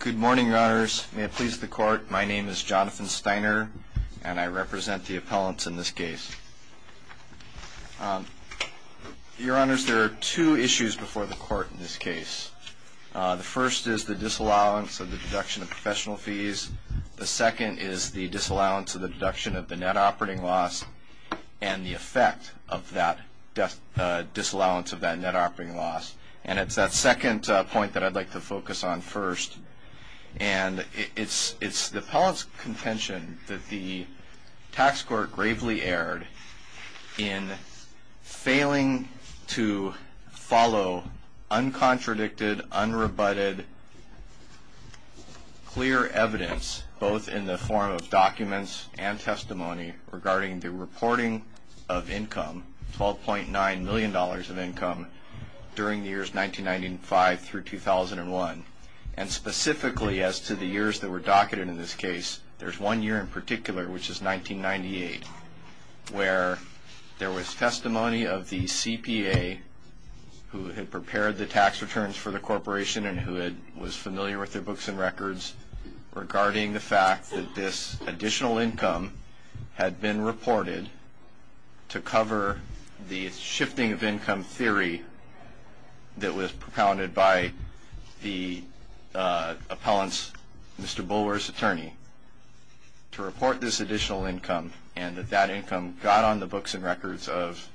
Good morning, Your Honors. May it please the Court, my name is Jonathan Steiner, and I represent the appellants in this case. Your Honors, there are two issues before the Court in this case. The first is the disallowance of the deduction of professional fees. The second is the disallowance of the deduction of the net operating loss and the effect of that disallowance of that net operating loss. And it's that second point that I'd like to focus on first. And it's the appellant's contention that the tax court gravely erred in failing to follow uncontradicted, unrebutted, clear evidence, both in the form of documents and testimony regarding the reporting of income, $12.9 million of income, during the years 1995 through 2001. And specifically as to the years that were docketed in this case, there's one year in particular, which is 1998, where there was testimony of the CPA who had prepared the tax returns for the corporation and who was familiar with their books and records regarding the fact that this additional income had been reported to cover the shifting of income theory that was propounded by the appellant's, Mr. Bulwer's attorney, to report this additional income and that that income got on the books and records of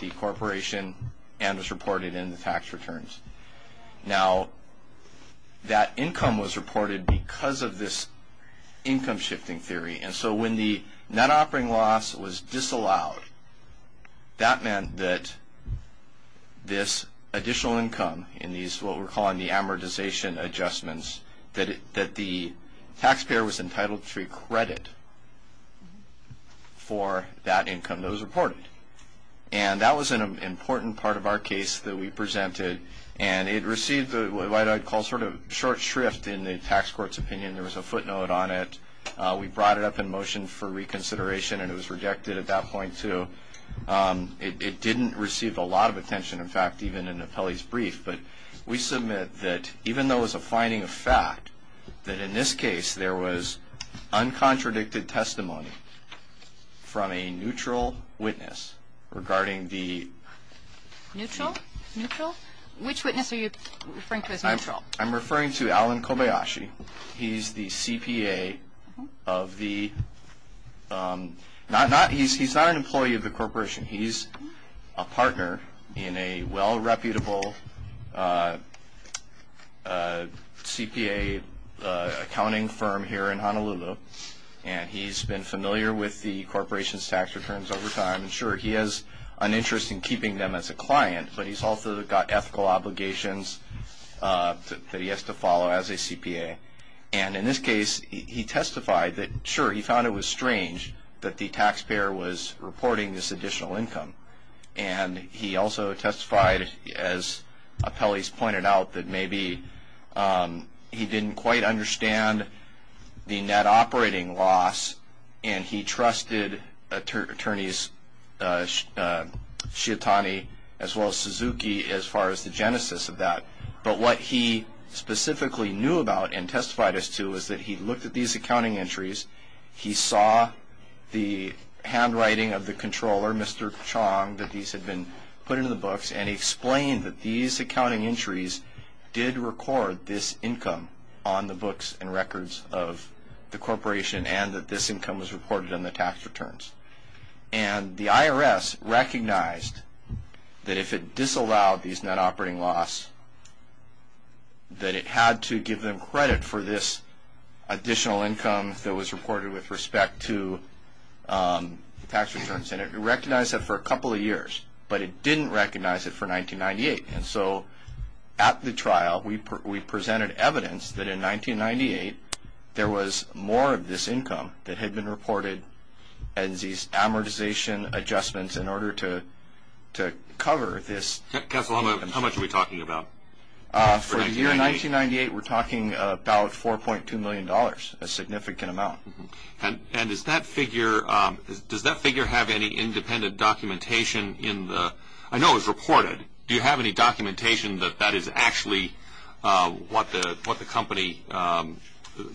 the corporation and was reported in the tax returns. Now, that income was reported because of this income shifting theory. And so when the net operating loss was disallowed, that meant that this additional income in these, what we're calling the amortization adjustments, that the taxpayer was entitled to credit for that income that was reported. And that was an important part of our case that we presented. And it received what I'd call sort of short shrift in the tax court's opinion. There was a footnote on it. We brought it up in motion for reconsideration, and it was rejected at that point, too. It didn't receive a lot of attention, in fact, even in the appellee's brief. But we submit that even though it was a finding of fact, that in this case, there was uncontradicted testimony from a neutral witness regarding the. Neutral? Neutral? Which witness are you referring to as neutral? I'm referring to Alan Kobayashi. He's the CPA of the, not, he's not an employee of the corporation. He's a partner in a well-reputable CPA accounting firm here in Honolulu, and he's been familiar with the corporation's tax returns over time. And, sure, he has an interest in keeping them as a client, but he's also got ethical obligations that he has to follow as a CPA. And in this case, he testified that, sure, he found it was strange that the taxpayer was reporting this additional income. And he also testified, as appellees pointed out, that maybe he didn't quite understand the net operating loss, and he trusted attorneys Sciatani as well as Suzuki as far as the genesis of that. But what he specifically knew about and testified as to was that he looked at these accounting entries, he saw the handwriting of the controller, Mr. Chong, that these had been put into the books, and he explained that these accounting entries did record this income on the books and records of the corporation and that this income was reported on the tax returns. And the IRS recognized that if it disallowed these net operating loss, that it had to give them credit for this additional income that was reported with respect to the tax returns. And it recognized that for a couple of years, but it didn't recognize it for 1998. And so at the trial, we presented evidence that in 1998, there was more of this income that had been reported and these amortization adjustments in order to cover this. Counsel, how much are we talking about? For the year 1998, we're talking about $4.2 million, a significant amount. And does that figure have any independent documentation in the – I know it was reported. Do you have any documentation that that is actually what the company –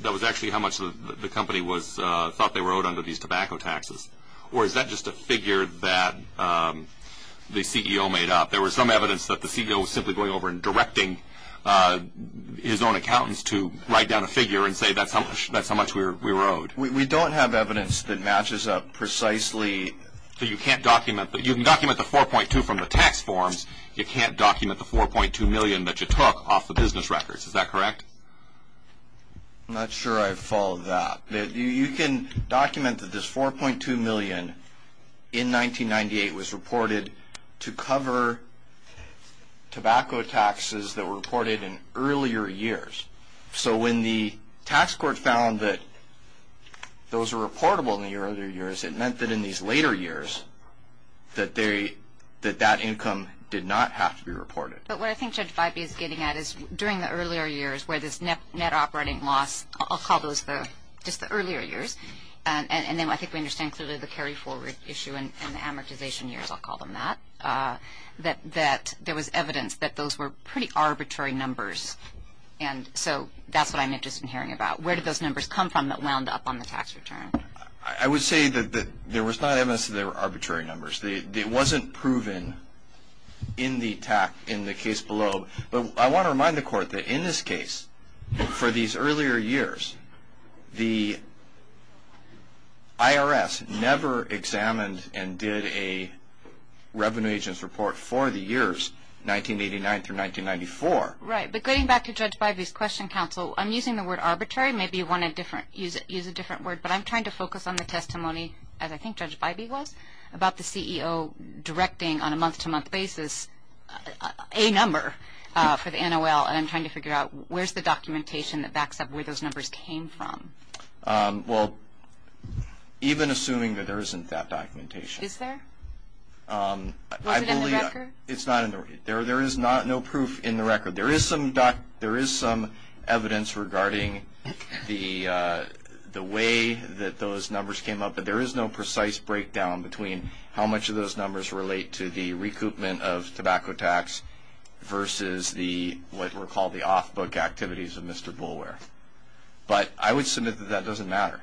that was actually how much the company thought they were owed under these tobacco taxes? Or is that just a figure that the CEO made up? There was some evidence that the CEO was simply going over and directing his own accountants to write down a figure and say that's how much we were owed. We don't have evidence that matches up precisely. You can document the $4.2 from the tax forms. You can't document the $4.2 million that you took off the business records. Is that correct? I'm not sure I followed that. You can document that this $4.2 million in 1998 was reported to cover tobacco taxes that were reported in earlier years. So when the tax court found that those were reportable in the earlier years, it meant that in these later years that that income did not have to be reported. But what I think Judge Fibey is getting at is during the earlier years where this net operating loss – I'll call those just the earlier years, and then I think we understand clearly the carry-forward issue and the amortization years, I'll call them that, that there was evidence that those were pretty arbitrary numbers. And so that's what I'm interested in hearing about. Where did those numbers come from that wound up on the tax return? I would say that there was not evidence that they were arbitrary numbers. It wasn't proven in the case below. But I want to remind the Court that in this case, for these earlier years, the IRS never examined and did a revenue agent's report for the years 1989 through 1994. Right, but getting back to Judge Fibey's question, Counsel, I'm using the word arbitrary. Maybe you want to use a different word. But I'm trying to focus on the testimony, as I think Judge Fibey was, about the CEO directing on a month-to-month basis a number for the NOL, and I'm trying to figure out where's the documentation that backs up where those numbers came from. Well, even assuming that there isn't that documentation. Is there? Was it in the record? It's not in the record. There is no proof in the record. There is some evidence regarding the way that those numbers came up, but there is no precise breakdown between how much of those numbers relate to the recoupment of tobacco tax versus what were called the off-book activities of Mr. Boulware. But I would submit that that doesn't matter,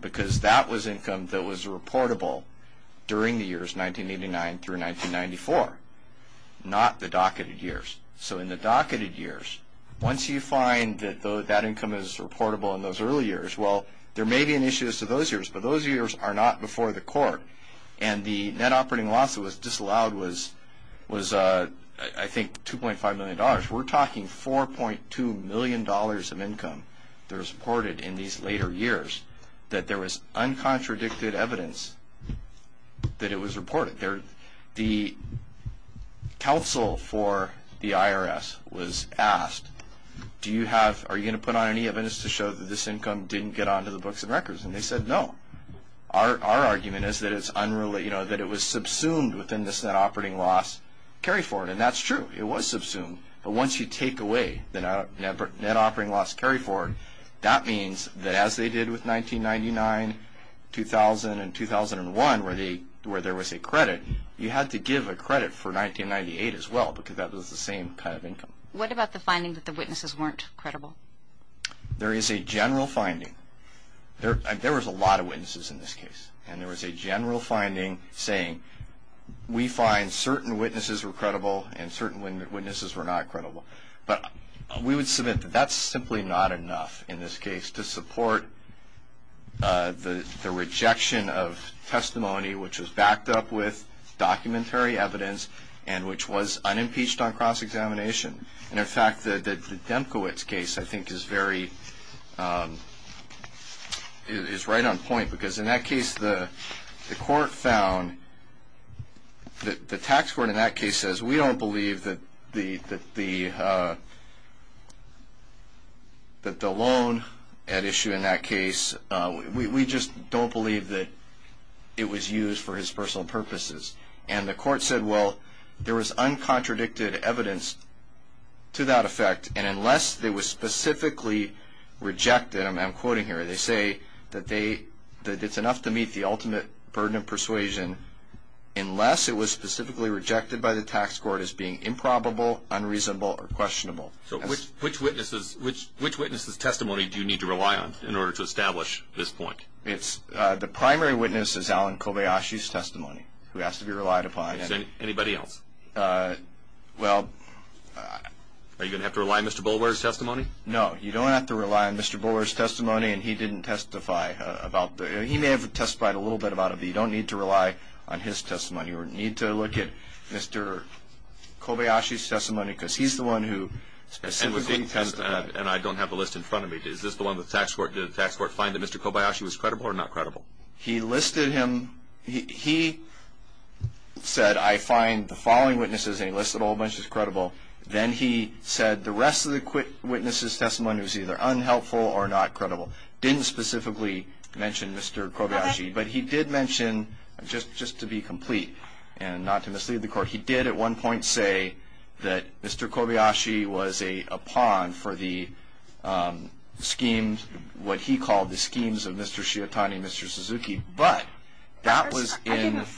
because that was income that was reportable during the years 1989 through 1994, not the docketed years. So in the docketed years, once you find that that income is reportable in those early years, well, there may be an issue as to those years, but those years are not before the court. And the net operating loss that was disallowed was, I think, $2.5 million. We're talking $4.2 million of income that was reported in these later years, that there was uncontradicted evidence that it was reported. The counsel for the IRS was asked, are you going to put on any evidence to show that this income didn't get onto the books and records? And they said no. Our argument is that it was subsumed within this net operating loss carry-forward. And that's true. It was subsumed. But once you take away the net operating loss carry-forward, that means that as they did with 1999, 2000, and 2001, where there was a credit, you had to give a credit for 1998 as well, because that was the same kind of income. What about the finding that the witnesses weren't credible? There is a general finding. There was a lot of witnesses in this case, and there was a general finding saying we find certain witnesses were credible and certain witnesses were not credible. But we would submit that that's simply not enough in this case to support the rejection of testimony which was backed up with documentary evidence and which was unimpeached on cross-examination. And, in fact, the Demkowitz case, I think, is right on point, because in that case the court found that the tax court in that case says we don't believe that the loan at issue in that case, we just don't believe that it was used for his personal purposes. And the court said, well, there was uncontradicted evidence to that effect, and unless it was specifically rejected, and I'm quoting here, they say that it's enough to meet the ultimate burden of persuasion unless it was specifically rejected by the tax court as being improbable, unreasonable, or questionable. So which witnesses' testimony do you need to rely on in order to establish this point? The primary witness is Alan Kobayashi's testimony, who has to be relied upon. Anybody else? Well… Are you going to have to rely on Mr. Bulwer's testimony? No. You don't have to rely on Mr. Bulwer's testimony, and he didn't testify about it. He may have testified a little bit about it, but you don't need to rely on his testimony or need to look at Mr. Kobayashi's testimony, because he's the one who specifically testified. And I don't have the list in front of me. Did the tax court find that Mr. Kobayashi was credible or not credible? He listed him. He said, I find the following witnesses, and he listed a whole bunch as credible. Then he said the rest of the witnesses' testimony was either unhelpful or not credible. Didn't specifically mention Mr. Kobayashi, but he did mention, just to be complete and not to mislead the court, he did at one point say that Mr. Kobayashi was a pawn for the schemes, what he called the schemes of Mr. Shiatani and Mr. Suzuki, but that was in…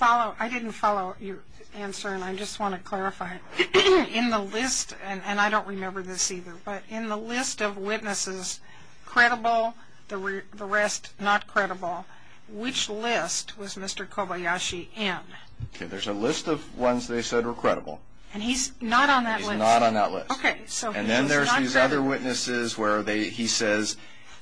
I didn't follow your answer, and I just want to clarify. Go ahead. In the list, and I don't remember this either, but in the list of witnesses, credible, the rest not credible, which list was Mr. Kobayashi in? There's a list of ones they said were credible. And he's not on that list? He's not on that list. Okay. And then there's these other witnesses where he says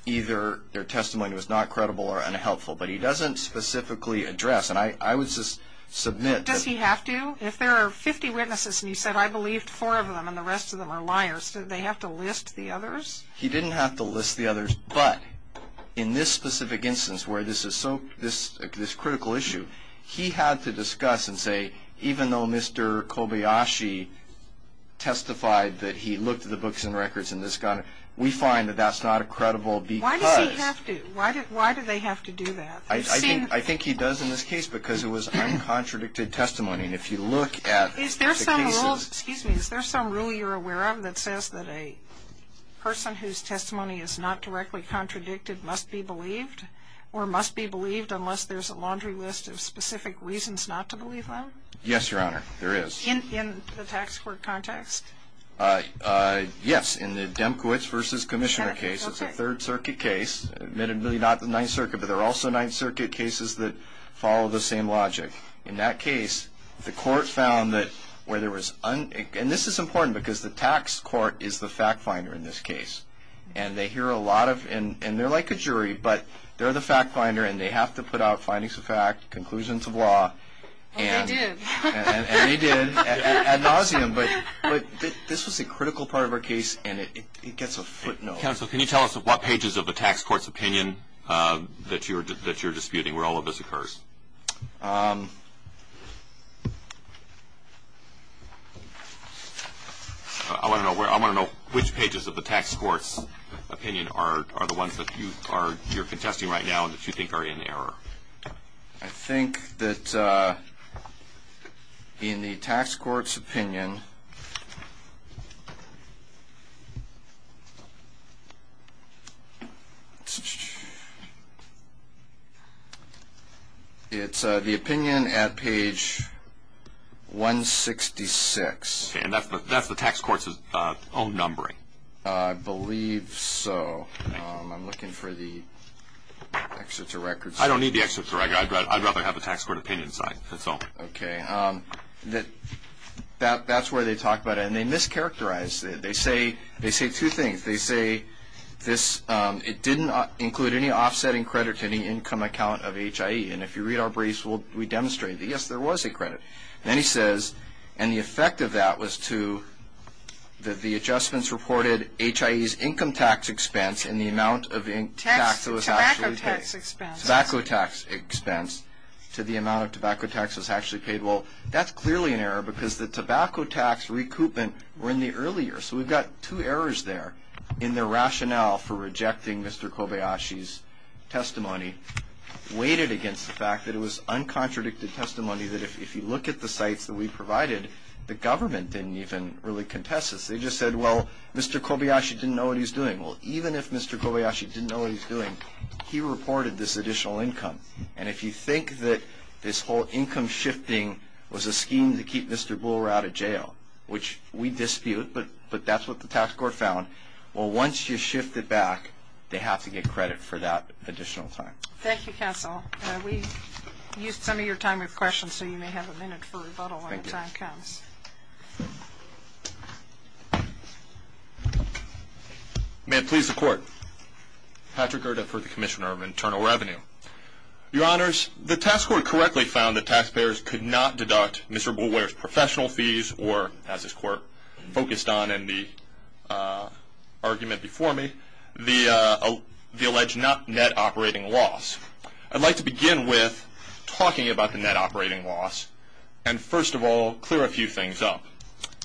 either their testimony was not credible or unhelpful, but he doesn't specifically address. And I would just submit that… Does he have to? If there are 50 witnesses and he said, I believed four of them and the rest of them are liars, do they have to list the others? He didn't have to list the others, but in this specific instance where this is so, this critical issue, he had to discuss and say, even though Mr. Kobayashi testified that he looked at the books and records in this guy, we find that that's not a credible because. Why does he have to? Why do they have to do that? I think he does in this case because it was uncontradicted testimony, and if you look at the cases… Is there some rule you're aware of that says that a person whose testimony is not directly contradicted must be believed or must be believed unless there's a laundry list of specific reasons not to believe them? Yes, Your Honor, there is. In the tax court context? Yes, in the Demkowitz v. Commissioner case. It's a Third Circuit case, admittedly not the Ninth Circuit, but there are also Ninth Circuit cases that follow the same logic. In that case, the court found that where there was, and this is important because the tax court is the fact finder in this case, and they hear a lot of, and they're like a jury, but they're the fact finder and they have to put out findings of fact, conclusions of law. Well, they did. And they did ad nauseum, but this was a critical part of our case, and it gets a footnote. Counsel, can you tell us what pages of the tax court's opinion that you're disputing where all of this occurs? I want to know which pages of the tax court's opinion are the ones that you're contesting right now and that you think are in error. I think that in the tax court's opinion, it's the opinion at page 166. And that's the tax court's own numbering? I believe so. I'm looking for the excerpts of records. I don't need the excerpts of records. I'd rather have the tax court opinion side. That's all. Okay. That's where they talk about it. And they mischaracterize it. They say two things. They say it didn't include any offsetting credit to any income account of HIE. And if you read our briefs, we demonstrate that, yes, there was a credit. And then he says, and the effect of that was to the adjustments reported, HIE's income tax expense and the amount of tax that was actually paid. Tax expense. Tobacco tax expense to the amount of tobacco tax that was actually paid. Well, that's clearly an error because the tobacco tax recoupment were in the earlier. So we've got two errors there in the rationale for rejecting Mr. Kobayashi's testimony, weighted against the fact that it was uncontradicted testimony, that if you look at the sites that we provided, the government didn't even really contest this. They just said, well, Mr. Kobayashi didn't know what he was doing. Well, even if Mr. Kobayashi didn't know what he was doing, he reported this additional income. And if you think that this whole income shifting was a scheme to keep Mr. Booler out of jail, which we dispute, but that's what the tax court found, well, once you shift it back, they have to get credit for that additional time. Thank you, counsel. We used some of your time with questions, so you may have a minute for rebuttal when the time comes. May it please the Court. Patrick Gerda for the Commissioner of Internal Revenue. Your Honors, the tax court correctly found that taxpayers could not deduct Mr. Booler's professional fees or, as this Court focused on in the argument before me, the alleged net operating loss. I'd like to begin with talking about the net operating loss and, first of all, clear a few things up.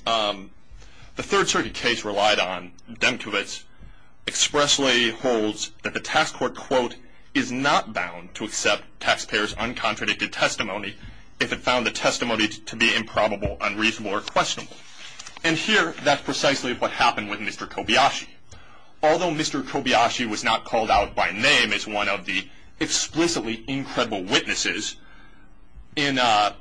The Third Circuit case relied on Demkowitz expressly holds that the tax court, quote, is not bound to accept taxpayers' uncontradicted testimony if it found the testimony to be improbable, unreasonable, or questionable. And here, that's precisely what happened with Mr. Kobayashi. Although Mr. Kobayashi was not called out by name as one of the explicitly incredible witnesses, in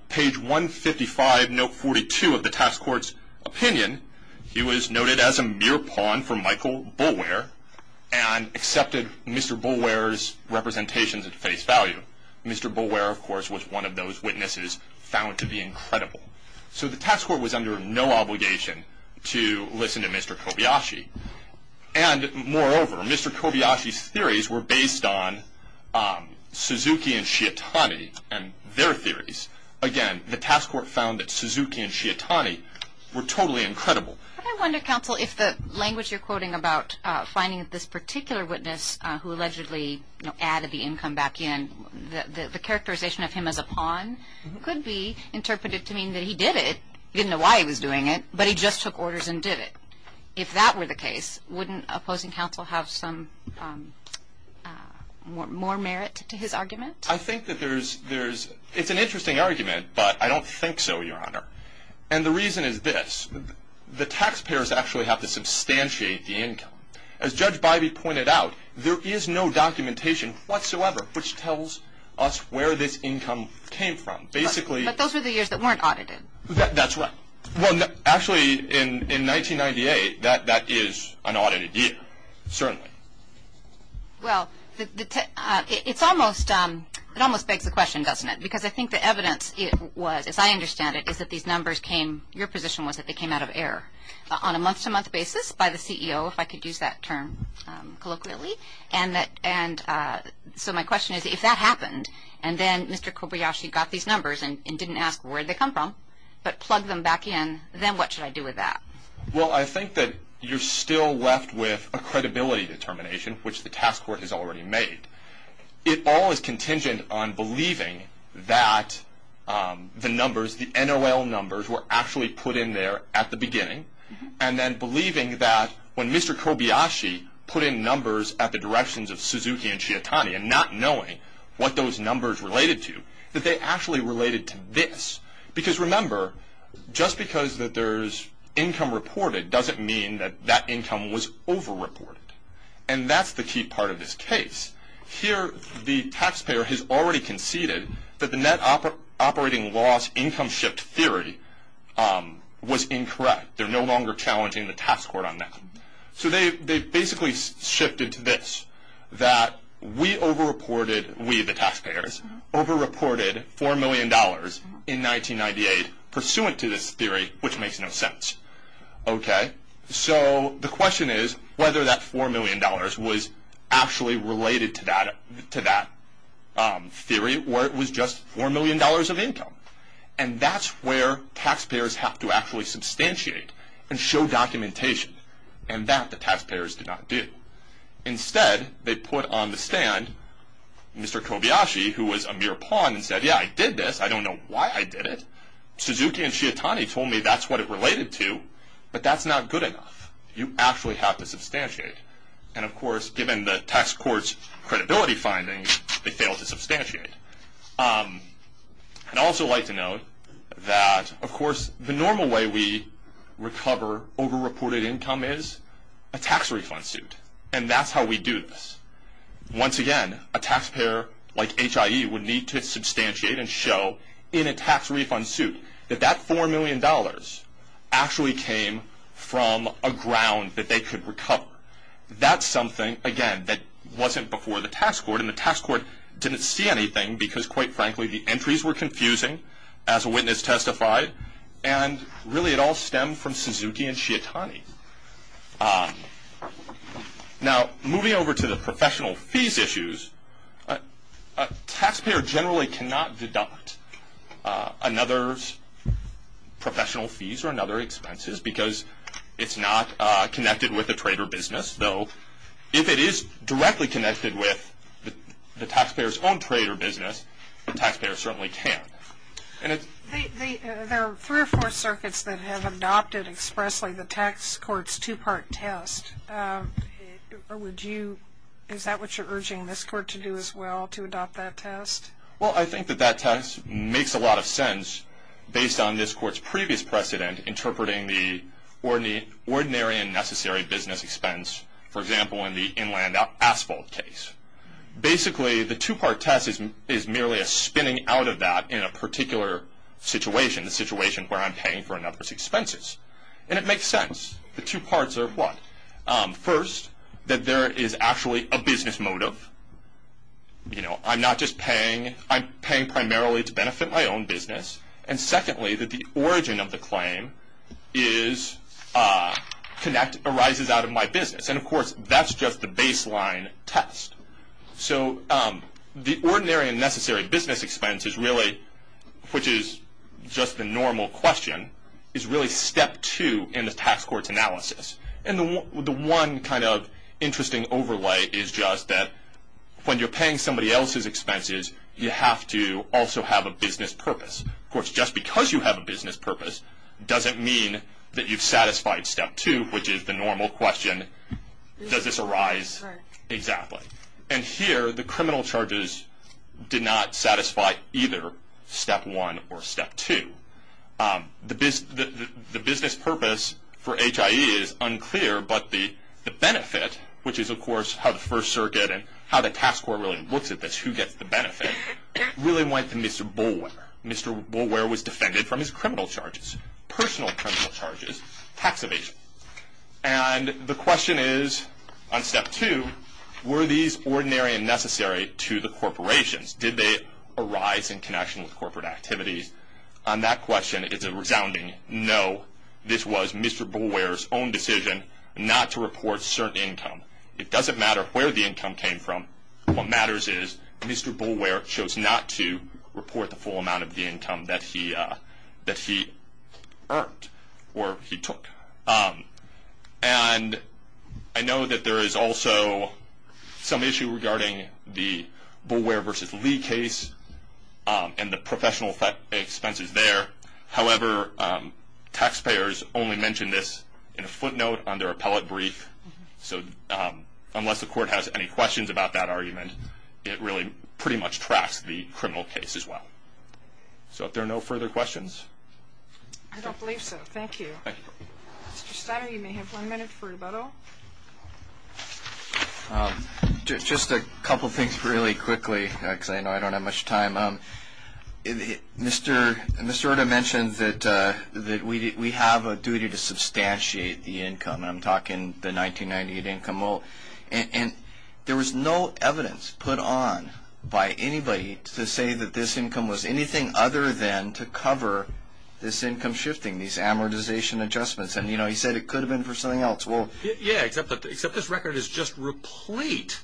page 155, note 42 of the tax court's opinion, he was noted as a mere pawn for Michael Boulware and accepted Mr. Boulware's representations at face value. Mr. Boulware, of course, was one of those witnesses found to be incredible. So the tax court was under no obligation to listen to Mr. Kobayashi. And, moreover, Mr. Kobayashi's theories were based on Suzuki and Shiatani and their theories. Again, the tax court found that Suzuki and Shiatani were totally incredible. I wonder, counsel, if the language you're quoting about finding this particular witness who allegedly added the income back in, the characterization of him as a pawn could be interpreted to mean that he did it, he didn't know why he was doing it, but he just took orders and did it. If that were the case, wouldn't opposing counsel have some more merit to his argument? I think that there's – it's an interesting argument, but I don't think so, Your Honor. And the reason is this. The taxpayers actually have to substantiate the income. As Judge Bybee pointed out, there is no documentation whatsoever which tells us where this income came from. But those were the years that weren't audited. That's right. Well, actually, in 1998, that is an audited year, certainly. Well, it's almost – it almost begs the question, doesn't it? Because I think the evidence was, as I understand it, is that these numbers came – your position was that they came out of error on a month-to-month basis by the CEO, if I could use that term colloquially. And so my question is, if that happened and then Mr. Kobayashi got these numbers and didn't ask where they come from but plugged them back in, then what should I do with that? Well, I think that you're still left with a credibility determination, which the task force has already made. It all is contingent on believing that the numbers, the NOL numbers, were actually put in there at the beginning and then believing that when Mr. Kobayashi put in numbers at the directions of Suzuki and Shiatani and not knowing what those numbers related to, that they actually related to this. Because remember, just because that there's income reported doesn't mean that that income was over-reported. And that's the key part of this case. Here, the taxpayer has already conceded that the net operating loss income shift theory was incorrect. They're no longer challenging the tax court on that. So they basically shifted to this, that we over-reported, we the taxpayers, over-reported $4 million in 1998 pursuant to this theory, which makes no sense. So the question is whether that $4 million was actually related to that theory or it was just $4 million of income. And that's where taxpayers have to actually substantiate and show documentation, and that the taxpayers did not do. Instead, they put on the stand Mr. Kobayashi, who was a mere pawn and said, yeah, I did this. I don't know why I did it. Suzuki and Shiatani told me that's what it related to, but that's not good enough. You actually have to substantiate. And of course, given the tax court's credibility findings, they failed to substantiate. I'd also like to note that, of course, the normal way we recover over-reported income is a tax refund suit. And that's how we do this. Once again, a taxpayer like HIE would need to substantiate and show in a tax refund suit that that $4 million actually came from a ground that they could recover. That's something, again, that wasn't before the tax court. And the tax court didn't see anything because, quite frankly, the entries were confusing, as a witness testified. And really, it all stemmed from Suzuki and Shiatani. Now, moving over to the professional fees issues, a taxpayer generally cannot deduct another's professional fees or another's expenses because it's not connected with the trade or business. Though, if it is directly connected with the taxpayer's own trade or business, the taxpayer certainly can. There are three or four circuits that have adopted expressly the tax court's two-part test. Is that what you're urging this court to do as well, to adopt that test? Well, I think that that test makes a lot of sense based on this court's previous precedent, interpreting the ordinary and necessary business expense, for example, in the inland asphalt case. Basically, the two-part test is merely a spinning out of that in a particular situation, the situation where I'm paying for another's expenses. And it makes sense. The two parts are what? First, that there is actually a business motive. I'm not just paying. I'm paying primarily to benefit my own business. And secondly, that the origin of the claim arises out of my business. And, of course, that's just the baseline test. So the ordinary and necessary business expense is really, which is just the normal question, is really step two in the tax court's analysis. And the one kind of interesting overlay is just that when you're paying somebody else's expenses, you have to also have a business purpose. Of course, just because you have a business purpose doesn't mean that you've satisfied step two, which is the normal question, does this arise? Right. Exactly. And here, the criminal charges did not satisfy either step one or step two. The business purpose for HIE is unclear, but the benefit, which is, of course, how the First Circuit and how the tax court really looks at this, who gets the benefit, really went to Mr. Boulware. Mr. Boulware was defended from his criminal charges, personal criminal charges, tax evasion. And the question is, on step two, were these ordinary and necessary to the corporations? Did they arise in connection with corporate activities? On that question, it's a resounding no. This was Mr. Boulware's own decision not to report certain income. It doesn't matter where the income came from. What matters is Mr. Boulware chose not to report the full amount of the income that he earned or he took. And I know that there is also some issue regarding the Boulware v. Lee case and the professional expenses there. However, taxpayers only mention this in a footnote on their appellate brief. So unless the court has any questions about that argument, it really pretty much tracks the criminal case as well. So if there are no further questions. I don't believe so. Thank you. Thank you. Mr. Steiner, you may have one minute for rebuttal. Just a couple things really quickly, because I know I don't have much time. Mr. Orta mentioned that we have a duty to substantiate the income. I'm talking the 1998 income moat. And there was no evidence put on by anybody to say that this income was anything other than to cover this income shifting, these amortization adjustments. And he said it could have been for something else. Yeah, except this record is just replete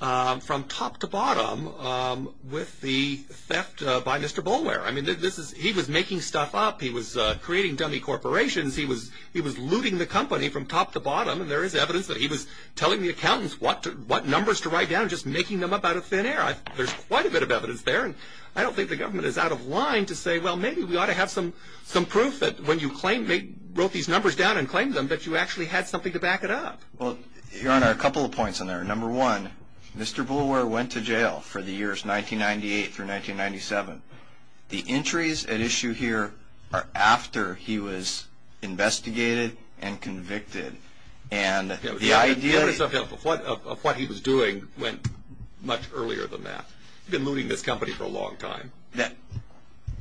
from top to bottom with the theft by Mr. Boulware. He was making stuff up. He was creating dummy corporations. He was looting the company from top to bottom. And there is evidence that he was telling the accountants what numbers to write down and just making them up out of thin air. There's quite a bit of evidence there. And I don't think the government is out of line to say, well, maybe we ought to have some proof that when you wrote these numbers down and claimed them that you actually had something to back it up. Well, Your Honor, a couple of points on there. Number one, Mr. Boulware went to jail for the years 1998 through 1997. The entries at issue here are after he was investigated and convicted. And the idea of what he was doing went much earlier than that. He'd been looting this company for a long time.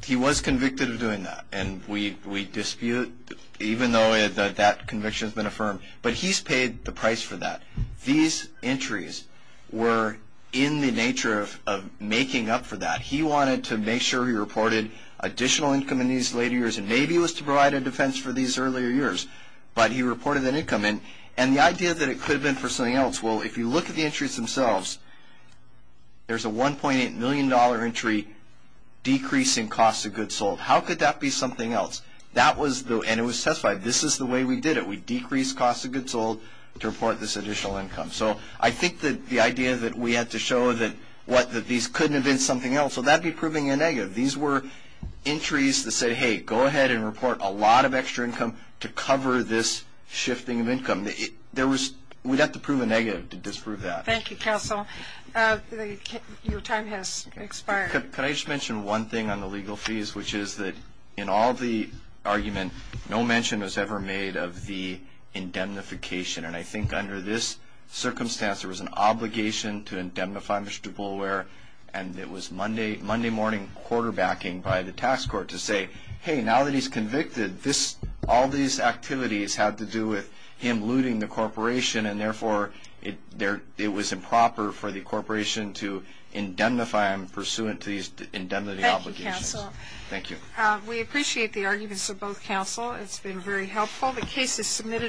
He was convicted of doing that. And we dispute, even though that conviction has been affirmed. But he's paid the price for that. These entries were in the nature of making up for that. He wanted to make sure he reported additional income in these later years. And maybe it was to provide a defense for these earlier years. But he reported that income. And the idea that it could have been for something else. Well, if you look at the entries themselves, there's a $1.8 million entry decreasing costs of goods sold. How could that be something else? And it was testified. This is the way we did it. We decreased costs of goods sold to report this additional income. So I think that the idea that we had to show that these couldn't have been something else. Well, that would be proving a negative. These were entries that said, hey, go ahead and report a lot of extra income to cover this shifting of income. We'd have to prove a negative to disprove that. Thank you, counsel. Your time has expired. Can I just mention one thing on the legal fees, which is that in all the argument, no mention was ever made of the indemnification. And I think under this circumstance, there was an obligation to indemnify Mr. Boulware. And it was Monday morning quarterbacking by the tax court to say, hey, now that he's convicted, all these activities had to do with him looting the corporation. And, therefore, it was improper for the corporation to indemnify him pursuant to these indemnity obligations. Thank you, counsel. Thank you. We appreciate the arguments of both counsel. It's been very helpful. The case is submitted.